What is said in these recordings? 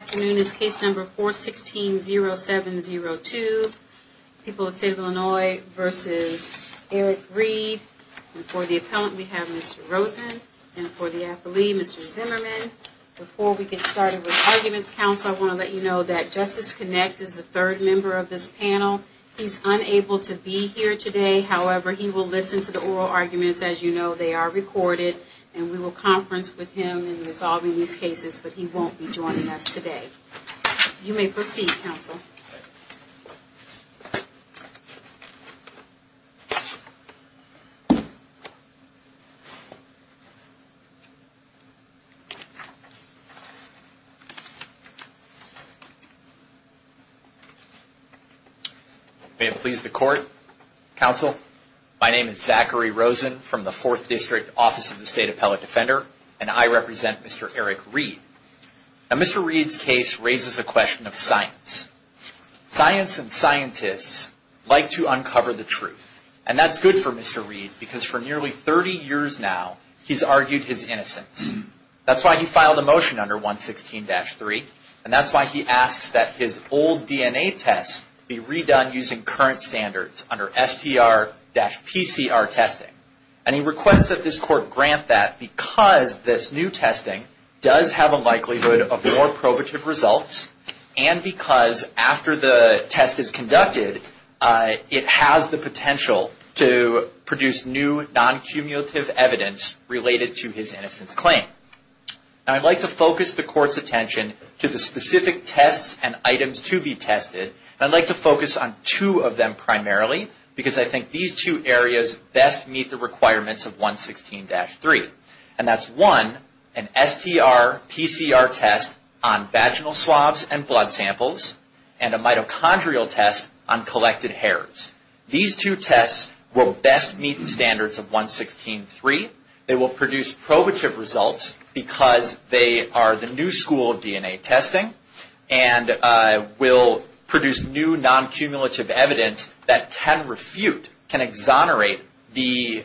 Afternoon is case number 416-0702. People of the State of Illinois v. Eric Reid. And for the appellant, we have Mr. Rosen. And for the affilee, Mr. Zimmerman. Before we get started with arguments, counsel, I want to let you know that Justice Kinect is the third member of this panel. He's unable to be here today. However, he will listen to the oral arguments. As you know, they are recorded. And we will conference with him in resolving these cases. But he won't be joining us today. You may proceed, counsel. May it please the court. Counsel, my name is Zachary Rosen from the 4th District Office of the State Appellate Defender. And I represent Mr. Eric Reid. Now Mr. Reid's case raises a question of science. Science and scientists like to uncover the truth. And that's good for Mr. Reid because for nearly 30 years now, he's argued his innocence. That's why he filed a motion under 116-3. And that's why he asks that his old DNA test be redone using current standards under STR-PCR testing. And he requests that this court grant that because this new testing does have a likelihood of more probative results. And because after the test is conducted, it has the potential to produce new non-cumulative evidence related to his innocence claim. Now I'd like to focus the court's attention to the specific tests and items to be tested. And I'd like to focus on two of them primarily because I think these two areas best meet the requirements of 116-3. And that's one, an STR-PCR test on vaginal swabs and blood samples and a mitochondrial test on collected hairs. These two tests will best meet the standards of 116-3. They will produce probative results because they are the new school of DNA testing and will produce new non-cumulative evidence that can refute, can exonerate, the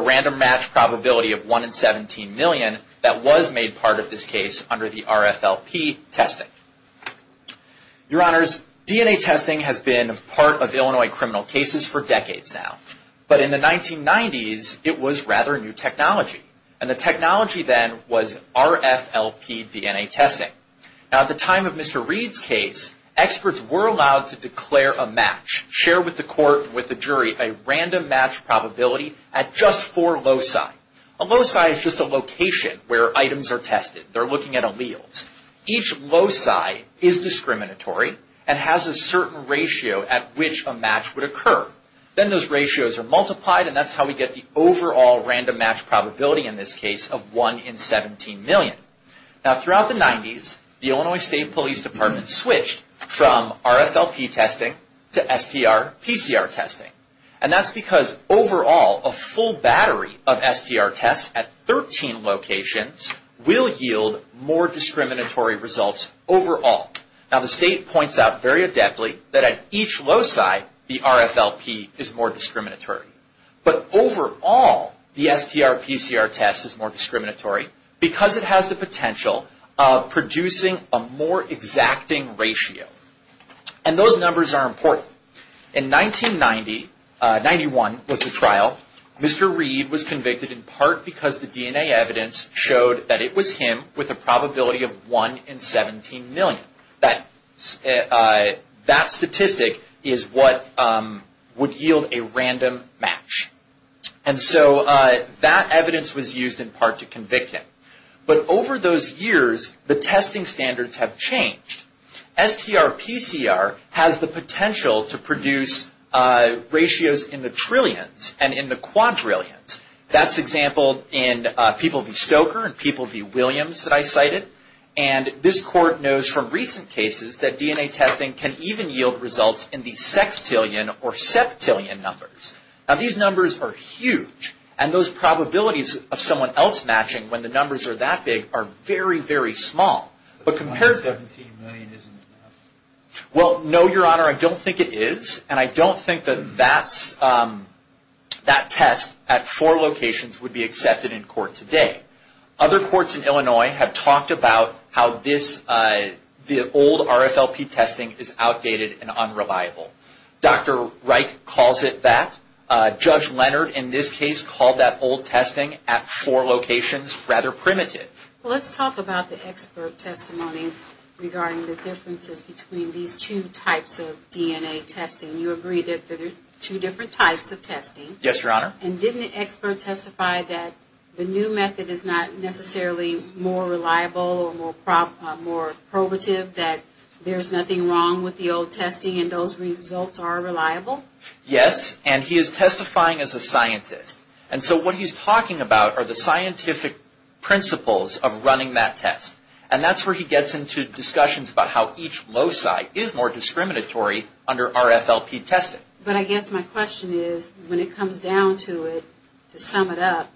random match probability of 1 in 17 million that was made part of this case under the RFLP testing. Your Honors, DNA testing has been part of Illinois criminal cases for decades now. But in the 1990s, it was rather new technology. And the technology then was RFLP DNA testing. Now at the time of Mr. Reed's case, experts were allowed to declare a match, share with the court and with the jury a random match probability at just four loci. A loci is just a location where items are tested. They're looking at alleles. Each loci is discriminatory and has a certain ratio at which a match would occur. Then those ratios are multiplied and that's how we get the overall random match probability in this case of 1 in 17 million. Now throughout the 90s, the Illinois State Police Department switched from RFLP testing to STR-PCR testing. And that's because overall, a full battery of STR tests at 13 locations will yield more discriminatory results overall. Now the state points out very adeptly that at each loci, the RFLP is more discriminatory. But overall, the STR-PCR test is more discriminatory because it has the potential of producing a more exacting ratio. And those numbers are important. In 1990, 91 was the trial, Mr. Reed was convicted in part because the DNA evidence showed that it was him with a probability of 1 in 17 million. That statistic is what would yield a random match. And so that evidence was used in part to convict him. But over those years, the testing standards have changed. STR-PCR has the potential to produce ratios in the trillions and in the quadrillions. That's example in people v. Stoker and people v. Williams that I cited. And this court knows from recent cases that DNA testing can even yield results in the sextillion or septillion numbers. Now these numbers are huge. And those probabilities of someone else matching when the numbers are that big are very, very small. 1 in 17 million isn't enough. Judge Leonard, in this case, called that old testing at four locations rather primitive. Let's talk about the expert testimony regarding the differences between these two types of DNA testing. You agreed that there are two different types of testing. Yes, Your Honor. And didn't the expert testify that the new method is not necessarily more reliable or more probative, that there's nothing wrong with the old testing and those results are reliable? Yes, and he is testifying as a scientist. And so what he's talking about are the scientific principles of running that test. And that's where he gets into discussions about how each loci is more discriminatory under RFLP testing. But I guess my question is, when it comes down to it, to sum it up,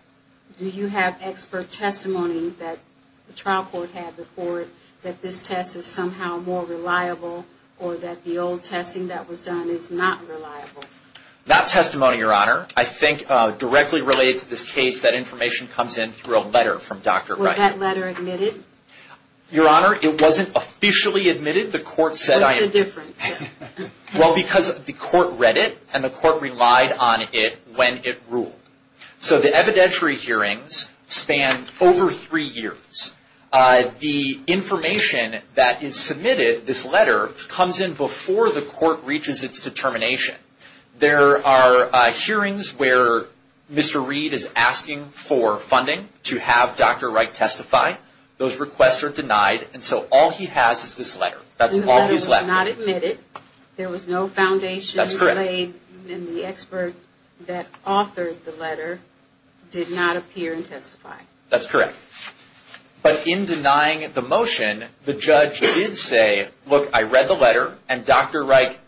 do you have expert testimony that the trial court had before it that this test is somehow more reliable or that the old testing that was done is not reliable? Not testimony, Your Honor. I think directly related to this case, that information comes in through a letter from Dr. Wright. Was that letter admitted? Your Honor, it wasn't officially admitted. The court said... What's the difference? Well, because the court read it and the court relied on it when it ruled. So the evidentiary hearings span over three years. The information that is submitted, this letter, comes in before the court reaches its determination. There are hearings where Mr. Reed is asking for funding to have Dr. Wright testify. Those requests are denied. And so all he has is this letter. The letter was not admitted. There was no foundation laid. And the expert that authored the letter did not appear and testify. That's correct. But in denying the motion, the judge did say, look, I read the letter and Dr. Wright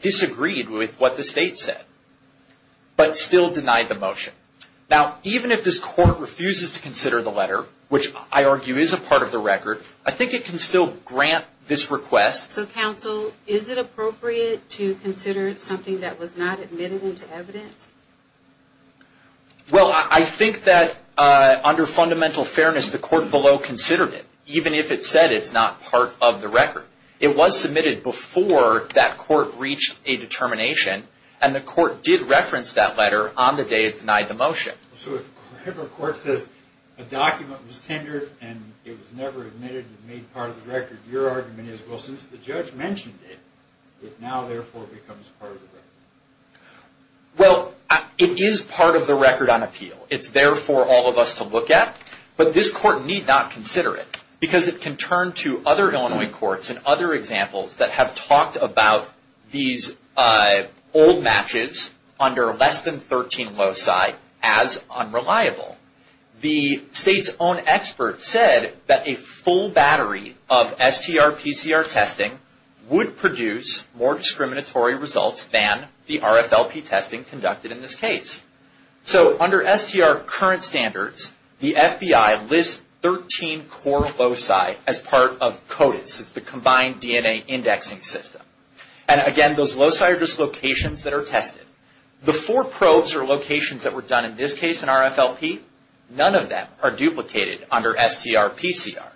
disagreed with what the state said, but still denied the motion. Now, even if this court refuses to consider the letter, which I argue is a part of the record, I think it can still grant this request. So, counsel, is it appropriate to consider something that was not admitted into evidence? Well, I think that under fundamental fairness, the court below considered it, even if it said it's not part of the record. It was submitted before that court reached a determination, and the court did reference that letter on the day it denied the motion. So if a court says a document was tendered and it was never admitted and made part of the record, your argument is, well, since the judge mentioned it, it now, therefore, becomes part of the record. Well, it is part of the record on appeal. It's there for all of us to look at, but this court need not consider it because it can turn to other Illinois courts and other examples that have talked about these old matches under less than 13 loci as unreliable. The state's own expert said that a full battery of STR-PCR testing would produce more discriminatory results than the RFLP testing conducted in this case. So under STR current standards, the FBI lists 13 core loci as part of CODIS. It's the Combined DNA Indexing System. And again, those loci are just locations that are tested. The four probes or locations that were done in this case in RFLP, none of them are duplicated under STR-PCR.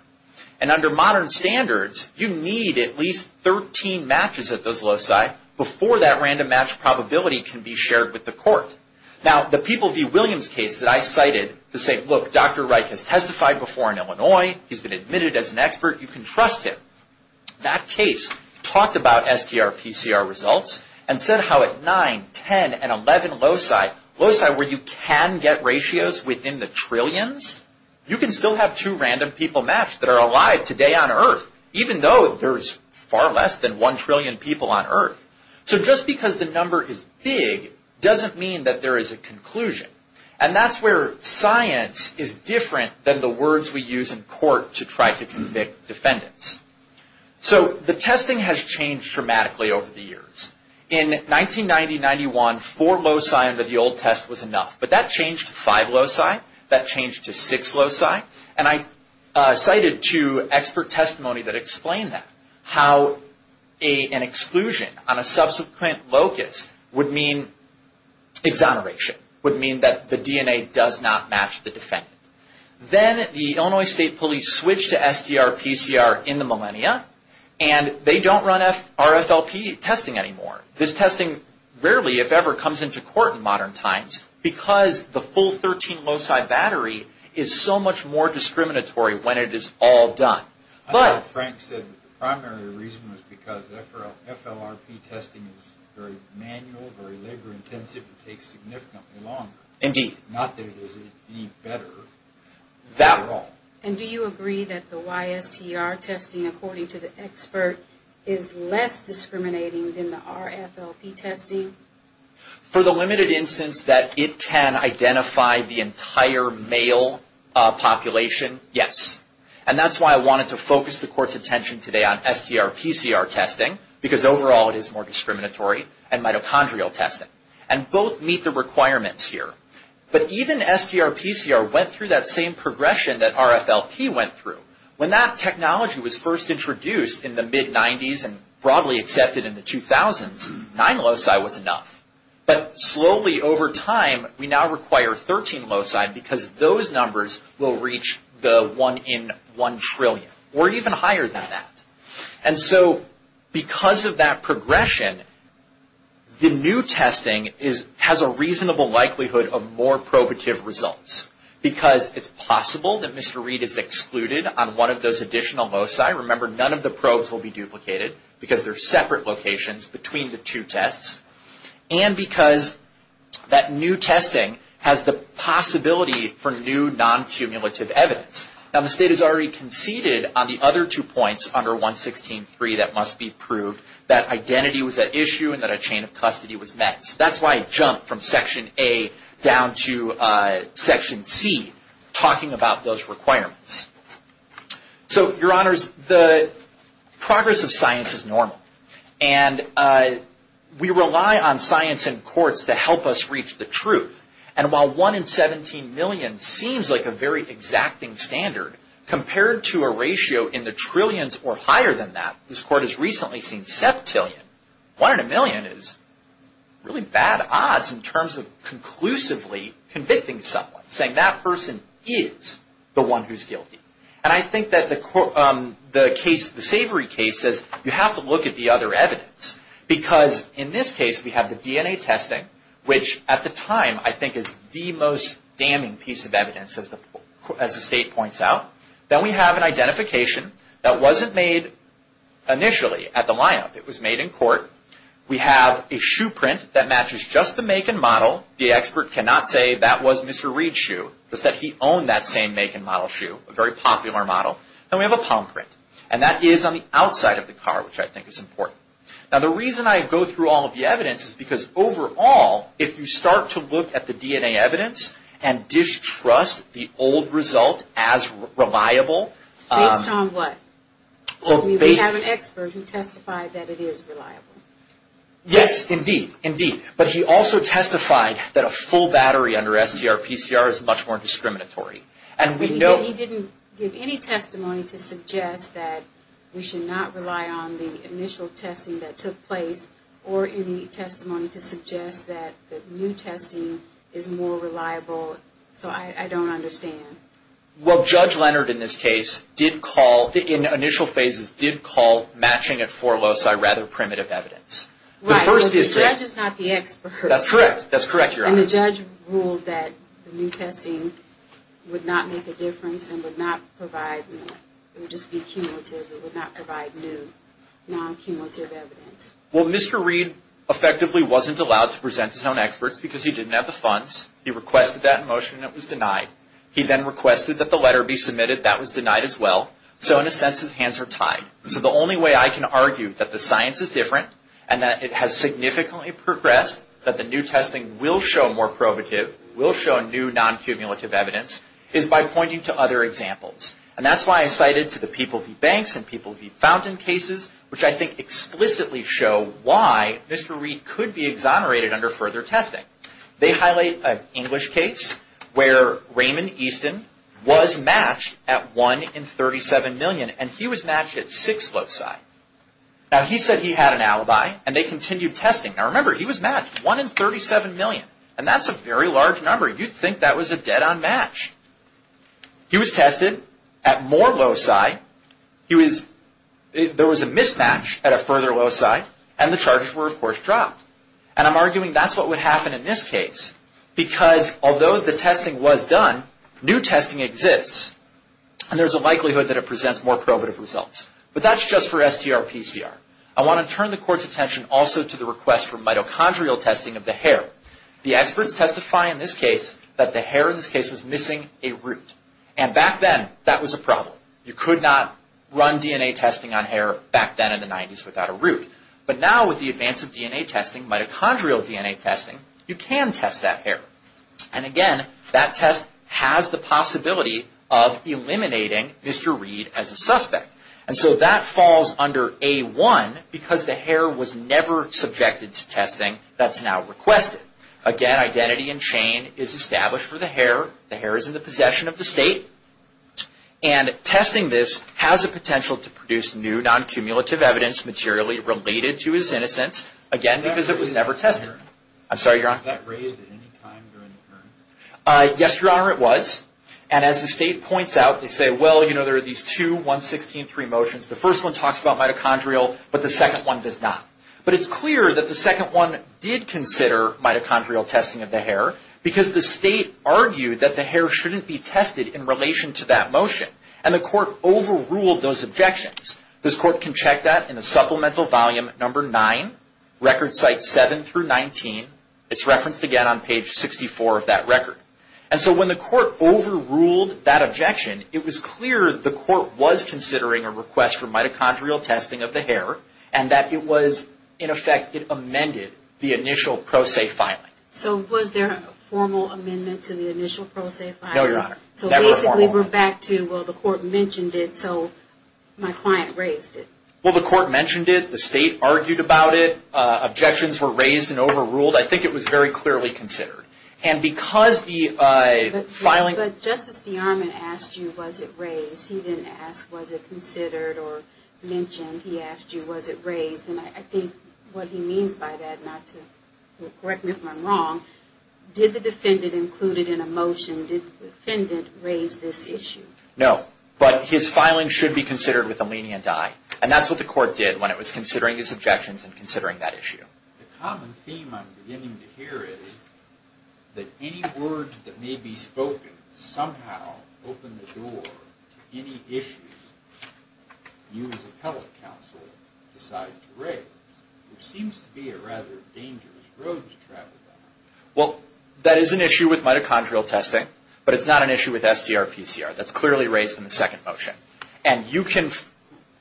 And under modern standards, you need at least 13 matches at those loci before that random match probability can be shared with the court. Now, the People v. Williams case that I cited to say, look, Dr. Reich has testified before in Illinois. He's been admitted as an expert. You can trust him. That case talked about STR-PCR results and said how at 9, 10, and 11 loci, loci where you can get ratios within the trillions, you can still have two random people match that are alive today on Earth, even though there's far less than one trillion people on Earth. So just because the number is big doesn't mean that there is a conclusion. And that's where science is different than the words we use in court to try to convict defendants. So the testing has changed dramatically over the years. In 1990-91, four loci under the old test was enough. But that changed to five loci. That changed to six loci. And I cited two expert testimony that explained that. How an exclusion on a subsequent locus would mean exoneration, would mean that the DNA does not match the defendant. Then the Illinois State Police switched to STR-PCR in the millennia, and they don't run RFLP testing anymore. This testing rarely, if ever, comes into court in modern times because the full 13 loci battery is so much more discriminatory when it is all done. And do you agree that the YSTR testing, according to the expert, is less discriminating than the RFLP testing? For the limited instance that it can identify the entire male population, yes. And that's why I wanted to focus the court's attention today on STR-PCR testing, because overall it is more discriminatory, and mitochondrial testing. And both meet the requirements here. But even STR-PCR went through that same progression that RFLP went through. When that technology was first introduced in the mid-90s, and broadly accepted in the 2000s, nine loci was enough. But slowly, over time, we now require 13 loci because those numbers will reach the one in one trillion, or even higher than that. And so, because of that progression, the new testing has a reasonable likelihood of more probative results. Because it's possible that Mr. Reed is excluded on one of those additional loci. Remember, none of the probes will be duplicated because they're separate locations between the two tests. And because that new testing has the possibility for new non-cumulative evidence. Now, the state has already conceded on the other two points under 116.3 that must be proved that identity was at issue and that a chain of custody was met. So that's why I jumped from Section A down to Section C, talking about those requirements. So, Your Honors, the progress of science is normal. And we rely on science and courts to help us reach the truth. And while one in 17 million seems like a very exacting standard, compared to a ratio in the trillions or higher than that, this Court has recently seen septillion. One in a million is really bad odds in terms of conclusively convicting someone, saying that person is the one who's guilty. And I think that the case, the Savory case, says you have to look at the other evidence. Because in this case, we have the DNA testing, which at the time I think is the most damning piece of evidence, as the state points out. Then we have an identification that wasn't made initially at the line-up. It was made in court. We have a shoe print that matches just the make and model. The expert cannot say that was Mr. Reed's shoe, but that he owned that same make and model shoe, a very popular model. And we have a palm print. And that is on the outside of the car, which I think is important. Now, the reason I go through all of the evidence is because overall, if you start to look at the DNA evidence and distrust the old result as reliable... Based on what? We have an expert who testified that it is reliable. Yes, indeed. Indeed. But he also testified that a full battery under STR-PCR is much more discriminatory. And we know... But he didn't give any testimony to suggest that we should not rely on the initial testing that took place, or any testimony to suggest that new testing is more reliable. So I don't understand. Well, Judge Leonard in this case did call, in initial phases, did call matching at 4 loci rather primitive evidence. Right, but the judge is not the expert. That's correct. That's correct, Your Honor. And the judge ruled that the new testing would not make a difference and would not provide, it would just be cumulative. It would not provide new, non-cumulative evidence. Well, Mr. Reid effectively wasn't allowed to present his own experts because he didn't have the funds. He requested that in motion and it was denied. He then requested that the letter be submitted. That was denied as well. So in a sense, his hands are tied. So the only way I can argue that the science is different and that it has significantly progressed, that the new testing will show more probative, will show new non-cumulative evidence, is by pointing to other examples. And that's why I cited to the People v. Banks and People v. Fountain cases, which I think explicitly show why Mr. Reid could be exonerated under further testing. They highlight an English case where Raymond Easton was matched at 1 in 37 million and he was matched at 6 loci. Now he said he had an alibi and they continued testing. Now remember, he was matched, 1 in 37 million, and that's a very large number. You'd think that was a dead-on match. He was tested at more loci. There was a mismatch at a further loci and the charges were, of course, dropped. And I'm arguing that's what would happen in this case because although the testing was done, new testing exists and there's a likelihood that it presents more probative results. But that's just for STR-PCR. I want to turn the Court's attention also to the request for mitochondrial testing of the hair. The experts testify in this case that the hair in this case was missing a root. And back then, that was a problem. You could not run DNA testing on hair back then in the 90s without a root. But now with the advance of DNA testing, mitochondrial DNA testing, you can test that hair. And again, that test has the possibility of eliminating Mr. Reid as a suspect. And so that falls under A-1 because the hair was never subjected to testing that's now requested. Again, identity and chain is established for the hair. The hair is in the possession of the State. And testing this has the potential to produce new non-cumulative evidence materially related to his innocence, again, because it was never tested. Was that raised at any time during the hearing? Yes, Your Honor, it was. And as the State points out, they say, well, you know, there are these two 116.3 motions. The first one talks about mitochondrial, but the second one does not. But it's clear that the second one did consider mitochondrial testing of the hair because the State argued that the hair shouldn't be tested in relation to that motion. And the Court overruled those objections. This Court can check that in the Supplemental Volume No. 9, Record Cites 7-19. It's referenced again on page 64 of that record. And so when the Court overruled that objection, it was clear the Court was considering a request for mitochondrial testing of the hair, and that it was, in effect, it amended the initial pro se filing. So was there a formal amendment to the initial pro se filing? No, Your Honor, never a formal one. We were back to, well, the Court mentioned it, so my client raised it. Well, the Court mentioned it, the State argued about it, objections were raised and overruled. I think it was very clearly considered. And because the filing... But Justice DeArmond asked you, was it raised? He didn't ask, was it considered or mentioned. He asked you, was it raised? And I think what he means by that, not to correct me if I'm wrong, did the defendant include it in a motion? And did the defendant raise this issue? No, but his filing should be considered with a lenient eye. And that's what the Court did when it was considering his objections and considering that issue. The common theme I'm beginning to hear is that any words that may be spoken somehow open the door to any issues you as appellate counsel decide to raise. There seems to be a rather dangerous road to travel down. Well, that is an issue with mitochondrial testing, but it's not an issue with SDR-PCR. That's clearly raised in the second motion. And you can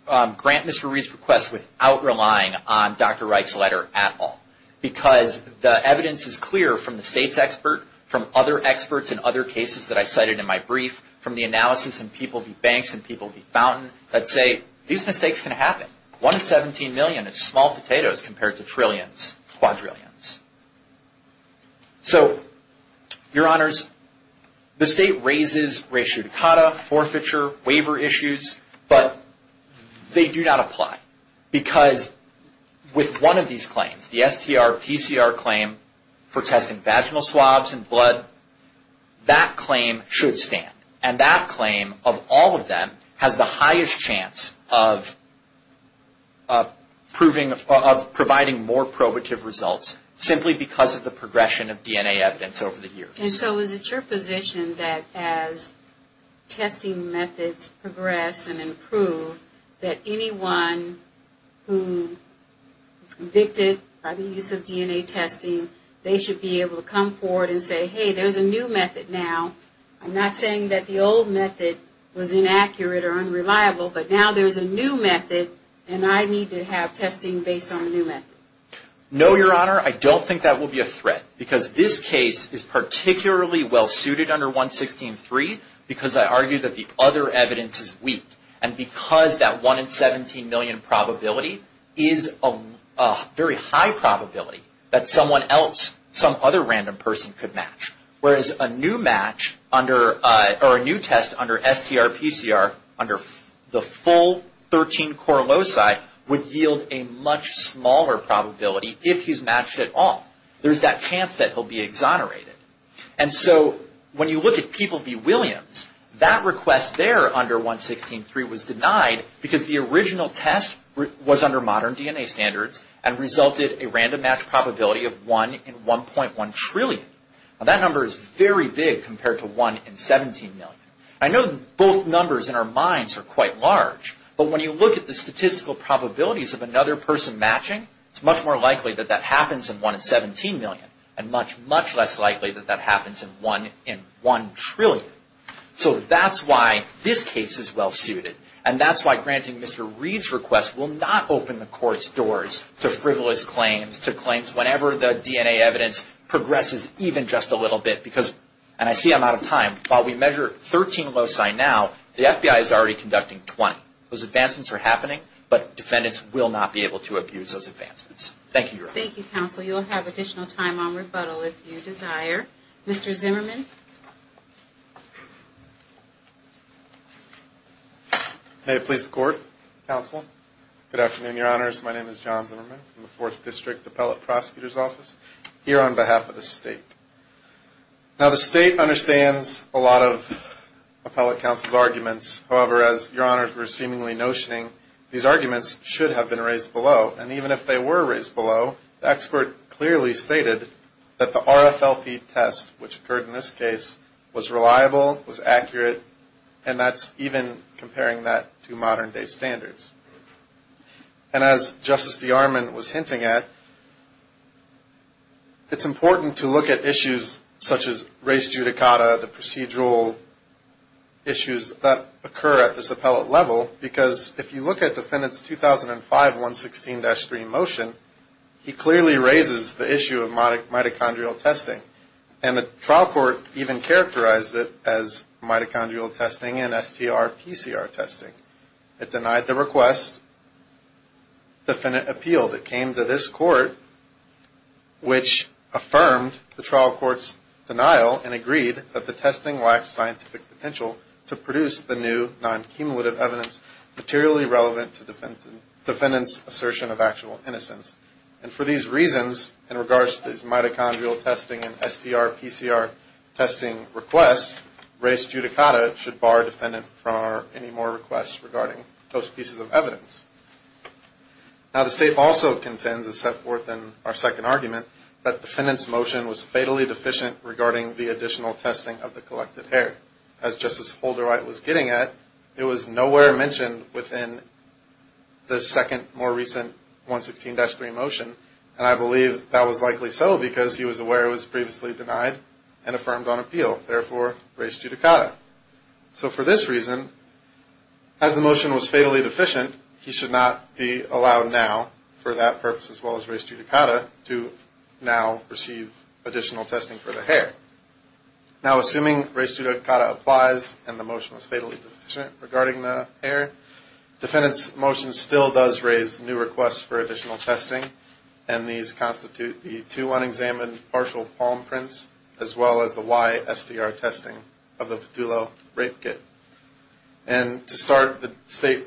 grant Mr. Reed's request without relying on Dr. Reich's letter at all. Because the evidence is clear from the State's expert, from other experts in other cases that I cited in my brief, from the analysis in People v. Banks and People v. Fountain that say these mistakes can happen. One in 17 million is small potatoes compared to trillions, quadrillions. So, Your Honors, the State raises ratio decada, forfeiture, waiver issues, but they do not apply. Because with one of these claims, the SDR-PCR claim for testing vaginal swabs and blood, that claim should stand. And that claim, of all of them, has the highest chance of providing more probative results, simply because of the progression of DNA evidence over the years. And so is it your position that as testing methods progress and improve, that anyone who is convicted by the use of DNA testing, they should be able to come forward and say, hey, there's a new method now. I'm not saying that the old method was inaccurate or unreliable, but now there's a new method, and I need to have testing based on the new method. No, Your Honor, I don't think that will be a threat. Because this case is particularly well suited under 116.3, because I argue that the other evidence is weak. And because that 1 in 17 million probability is a very high probability that someone else, some other random person, could match. Whereas a new test under SDR-PCR, under the full 13 core loci, would yield a much smaller probability if he's matched at all. There's that chance that he'll be exonerated. And so when you look at people v. Williams, that request there under 116.3 was denied, because the original test was under modern DNA standards and resulted in a random match probability of 1 in 1.1 trillion. Now that number is very big compared to 1 in 17 million. I know both numbers in our minds are quite large, but when you look at the statistical probabilities of another person matching, it's much more likely that that happens in 1 in 17 million, and much, much less likely that that happens in 1 in 1 trillion. So that's why this case is well suited. And that's why granting Mr. Reed's request will not open the Court's doors to frivolous claims, to claims whenever the DNA evidence progresses even just a little bit. Because, and I see I'm out of time, while we measure 13 loci now, the FBI is already conducting 20. Those advancements are happening, but defendants will not be able to abuse those advancements. Thank you, Your Honor. Thank you, Counsel. You'll have additional time on rebuttal if you desire. Mr. Zimmerman. May it please the Court, Counsel. Good afternoon, Your Honors. My name is John Zimmerman from the Fourth District Appellate Prosecutor's Office, here on behalf of the State. Now the State understands a lot of Appellate Counsel's arguments. However, as Your Honors were seemingly notioning, these arguments should have been raised below. And even if they were raised below, the expert clearly stated that the RFLP test, which occurred in this case, was reliable, was accurate, and that's even comparing that to modern-day standards. And as Justice DeArmond was hinting at, it's important to look at issues such as race judicata, the procedural issues that occur at this appellate level, because if you look at the defendant's 2005 116-3 motion, he clearly raises the issue of mitochondrial testing. And the trial court even characterized it as mitochondrial testing and STR-PCR testing. It denied the request. The defendant appealed. It came to this court, which affirmed the trial court's denial and agreed that the testing lacked scientific potential to produce the new non-cumulative evidence materially relevant to the defendant's assertion of actual innocence. And for these reasons, in regards to these mitochondrial testing and STR-PCR testing requests, race judicata should bar a defendant from any more requests regarding those pieces of evidence. Now, the state also contends, as set forth in our second argument, that the defendant's motion was fatally deficient regarding the additional testing of the collected hair. As Justice Holderright was getting at, it was nowhere mentioned within the second, more recent 116-3 motion, and I believe that was likely so because he was aware it was previously denied and affirmed on appeal, therefore race judicata. So for this reason, as the motion was fatally deficient, he should not be allowed now, for that purpose as well as race judicata, to now receive additional testing for the hair. Now, assuming race judicata applies and the motion was fatally deficient regarding the hair, defendant's motion still does raise new requests for additional testing, and these constitute the two unexamined partial palm prints, as well as the Y-STR testing of the Petulo rape kit. And to start, the state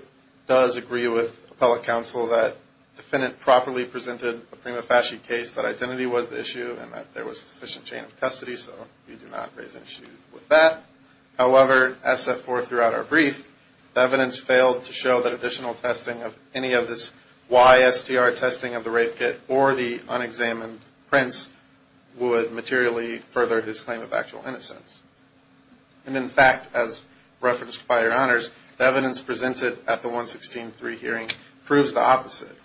does agree with appellate counsel that the defendant properly presented a prima facie case, that identity was the issue, and that there was sufficient chain of custody, so we do not raise issues with that. However, as set forth throughout our brief, the evidence failed to show that additional testing of any of this Y-STR testing of the rape kit or the unexamined prints would materially further his claim of actual innocence. And in fact, as referenced by your honors, the evidence presented at the 116-3 hearing proves the opposite.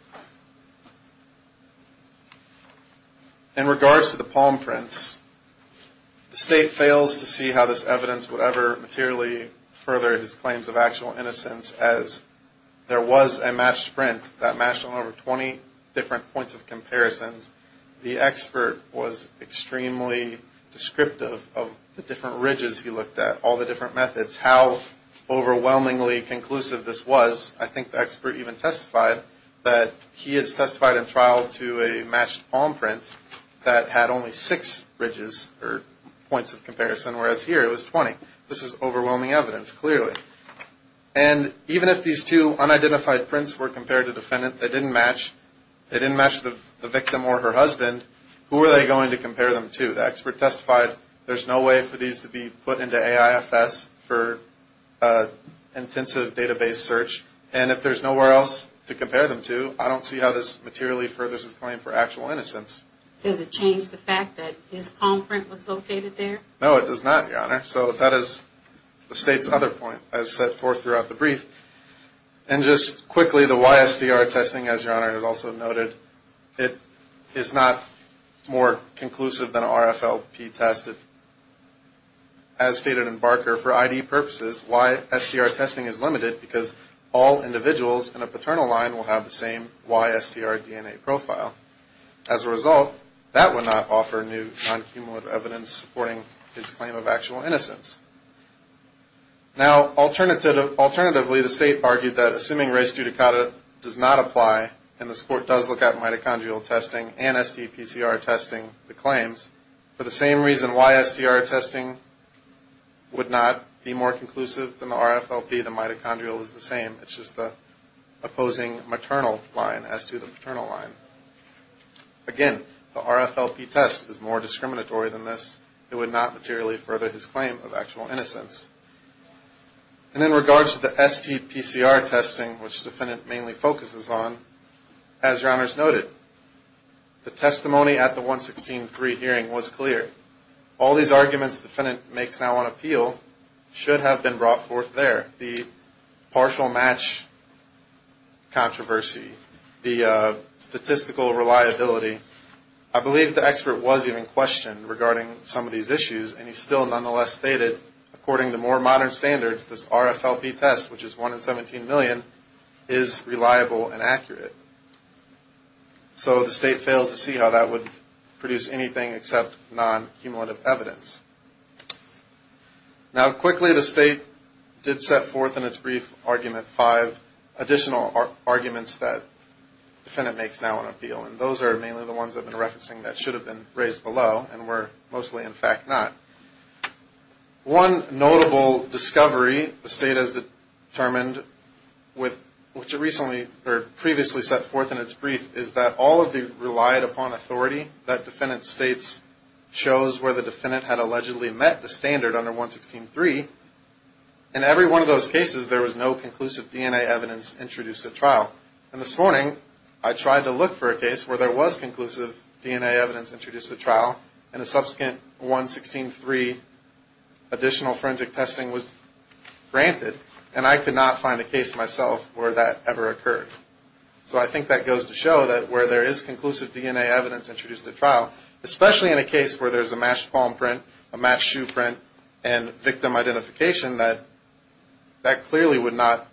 In regards to the palm prints, the state fails to see how this evidence would ever materially further his claims of actual innocence, as there was a matched print that matched on over 20 different points of comparisons. The expert was extremely descriptive of the different ridges he looked at, all the different methods, how overwhelmingly conclusive this was. I think the expert even testified that he has testified in trial to a matched palm print that had only six ridges or points of comparison, whereas here it was 20. This is overwhelming evidence, clearly. And even if these two unidentified prints were compared to the defendant, they didn't match, they didn't match the victim or her husband, who were they going to compare them to? The expert testified there's no way for these to be put into AIFS for intensive database search, and if there's nowhere else to compare them to, I don't see how this materially furthers his claim for actual innocence. Does it change the fact that his palm print was located there? No, it does not, your honor. So that is the state's other point, as set forth throughout the brief. And just quickly, the YSDR testing, as your honor has also noted, it is not more conclusive than an RFLP test. As stated in Barker, for ID purposes, YSDR testing is limited because all individuals in a paternal line will have the same YSDR DNA profile. As a result, that would not offer new non-cumulative evidence supporting his claim of actual innocence. Now, alternatively, the state argued that assuming race judicata does not apply and the court does look at mitochondrial testing and STPCR testing, the claims, for the same reason YSDR testing would not be more conclusive than the RFLP, the mitochondrial is the same. It's just the opposing maternal line as to the paternal line. Again, the RFLP test is more discriminatory than this. It would not materially further his claim of actual innocence. And in regards to the STPCR testing, which the defendant mainly focuses on, as your honors noted, the testimony at the 116.3 hearing was clear. All these arguments the defendant makes now on appeal should have been brought forth there. The partial match controversy, the statistical reliability, I believe the expert was even questioned regarding some of these issues, and he still nonetheless stated, according to more modern standards, this RFLP test, which is 1 in 17 million, is reliable and accurate. So the state fails to see how that would produce anything except non-cumulative evidence. Now, quickly, the state did set forth in its brief argument five additional arguments that the defendant makes now on appeal, and those are mainly the ones I've been referencing that should have been raised below and were mostly, in fact, not. One notable discovery the state has determined, which it previously set forth in its brief, is that all of the relied-upon authority that defendant states shows where the defendant had allegedly met the standard under 116.3, in every one of those cases there was no conclusive DNA evidence introduced at trial. And this morning I tried to look for a case where there was conclusive DNA evidence introduced at trial, and a subsequent 116.3 additional forensic testing was granted, and I could not find a case myself where that ever occurred. So I think that goes to show that where there is conclusive DNA evidence introduced at trial, especially in a case where there's a matched palm print, a matched shoe print, and victim identification, that that clearly would not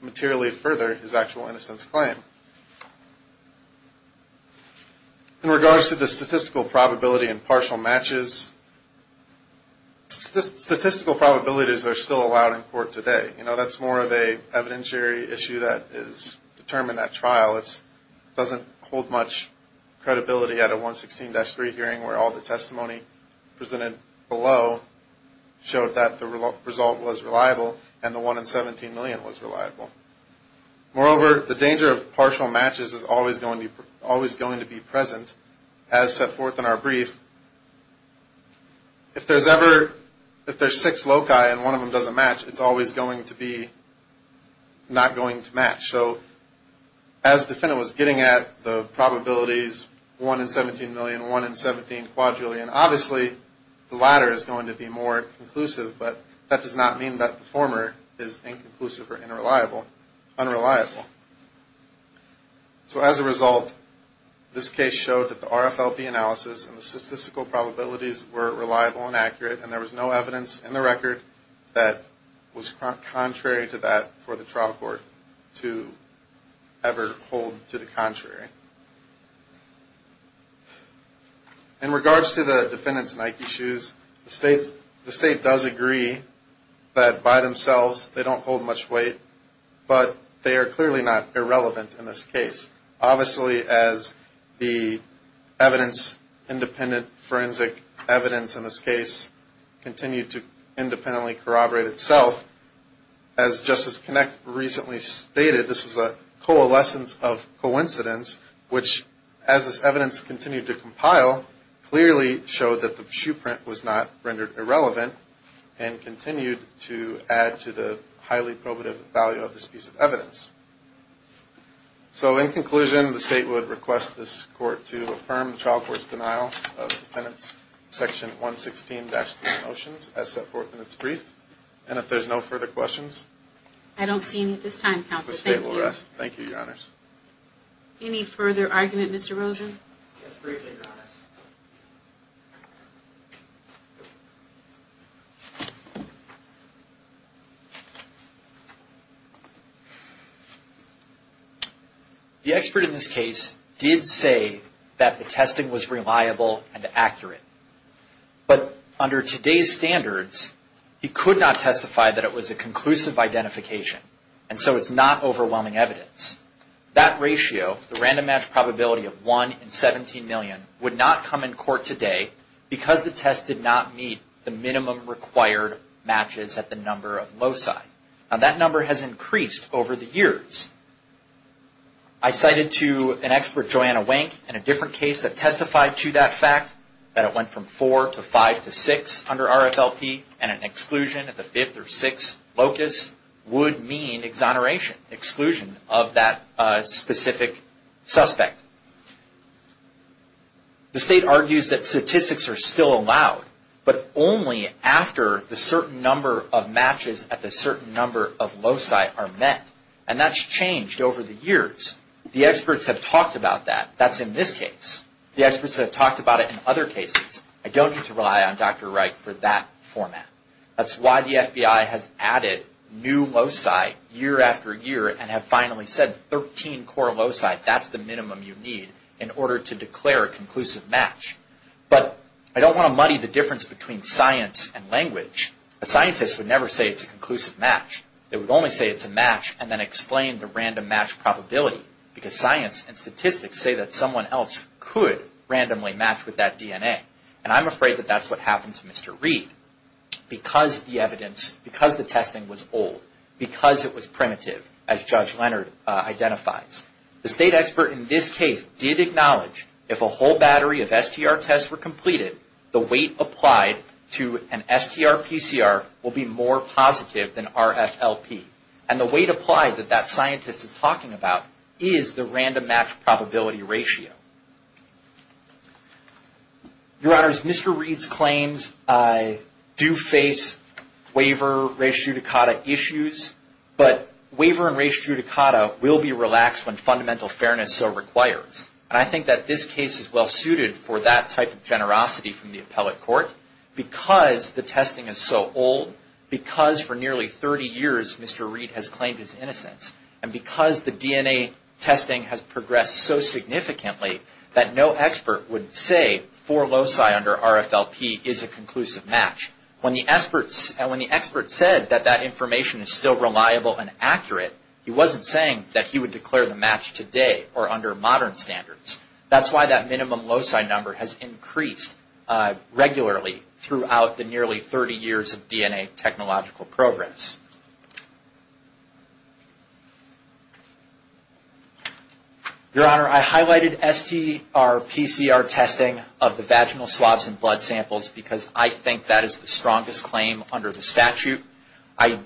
materially further his actual innocence claim. In regards to the statistical probability and partial matches, statistical probabilities are still allowed in court today. You know, that's more of an evidentiary issue that is determined at trial. It doesn't hold much credibility at a 116.3 hearing where all the testimony presented below showed that the result was reliable, and the one in 17 million was reliable. Moreover, the danger of partial matches is always going to be present. As set forth in our brief, if there's six loci and one of them doesn't match, it's always going to be not going to match. So as the defendant was getting at the probabilities 1 in 17 million, 1 in 17 quadrillion, obviously the latter is going to be more conclusive, but that does not mean that the former is inconclusive or unreliable. So as a result, this case showed that the RFLP analysis and the statistical probabilities were reliable and accurate, and there was no evidence in the record that was contrary to that for the trial court to ever hold to the contrary. In regards to the defendant's Nike shoes, the state does agree that by themselves they don't hold much weight, but they are clearly not irrelevant in this case. Obviously, as the evidence, independent forensic evidence in this case continued to independently corroborate itself, as Justice Connick recently stated, this was a coalescence of coincidence, which as this evidence continued to compile, clearly showed that the shoe print was not rendered irrelevant and continued to add to the highly probative value of this piece of evidence. So in conclusion, the state would request this court to affirm the trial court's denial of the defendant's Section 116-3 motions as set forth in its brief, and if there's no further questions... I don't see any at this time, counsel. Thank you. The state will rest. Thank you, Your Honors. Any further argument, Mr. Rosen? Yes, briefly, Your Honors. The expert in this case did say that the testing was reliable and accurate, but under today's standards, he could not testify that it was a conclusive identification, and so it's not overwhelming evidence. That ratio, the random match probability of 1 in 17 million, would not come in court today because the test did not meet the minimum required matches at the number of loci. I cited to an expert, Joanna Wank, in a different case that testified to that fact, that it went from 4 to 5 to 6 under RFLP, and an exclusion at the 5th or 6th locus would mean exoneration, exclusion of that specific suspect. The state argues that statistics are still allowed, but only after the certain number of matches at the certain number of loci are met, and that's changed over the years. The experts have talked about that. That's in this case. The experts have talked about it in other cases. I don't need to rely on Dr. Wright for that format. That's why the FBI has added new loci year after year and have finally said 13 core loci, that's the minimum you need in order to declare a conclusive match. But I don't want to muddy the difference between science and language. A scientist would never say it's a conclusive match. They would only say it's a match and then explain the random match probability, because science and statistics say that someone else could randomly match with that DNA, and I'm afraid that that's what happened to Mr. Reed because the evidence, because the testing was old, because it was primitive, as Judge Leonard identifies. The state expert in this case did acknowledge if a whole battery of STR tests were completed, the weight applied to an STR-PCR will be more positive than RFLP, and the weight applied that that scientist is talking about is the random match probability ratio. Your Honors, Mr. Reed's claims do face waiver, res judicata issues, but waiver and res judicata will be relaxed when fundamental fairness so requires, and I think that this case is well suited for that type of generosity from the appellate court, because the testing is so old, because for nearly 30 years Mr. Reed has claimed his innocence, and because the DNA testing has progressed so significantly that no expert would say four loci under RFLP is a conclusive match. When the expert said that that information is still reliable and accurate, he wasn't saying that he would declare the match today or under modern standards. That's why that minimum loci number has increased regularly throughout the nearly 30 years of DNA technological progress. Your Honor, I highlighted STR-PCR testing of the vaginal swabs and blood samples because I think that is the strongest claim under the statute. I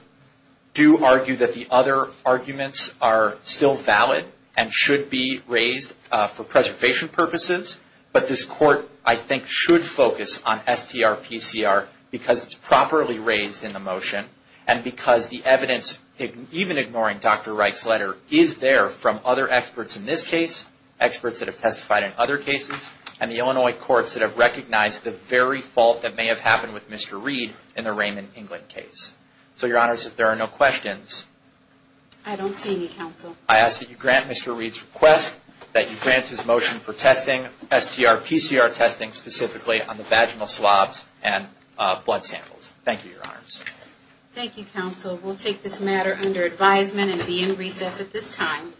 do argue that the other arguments are still valid and should be raised for preservation purposes, but this court I think should focus on STR-PCR because it's properly raised in the motion, and because the evidence, even ignoring Dr. Reich's letter, is there from other experts in this case, experts that have testified in other cases, and the Illinois courts that have recognized the very fault that may have happened with Mr. Reed in the Raymond England case. So, Your Honor, if there are no questions... I don't see any, Counsel. I ask that you grant Mr. Reed's request, that you grant his motion for testing STR-PCR testing specifically on the vaginal swabs and blood samples. Thank you, Your Honor. Thank you, Counsel. We'll take this matter under advisement and be in recess at this time.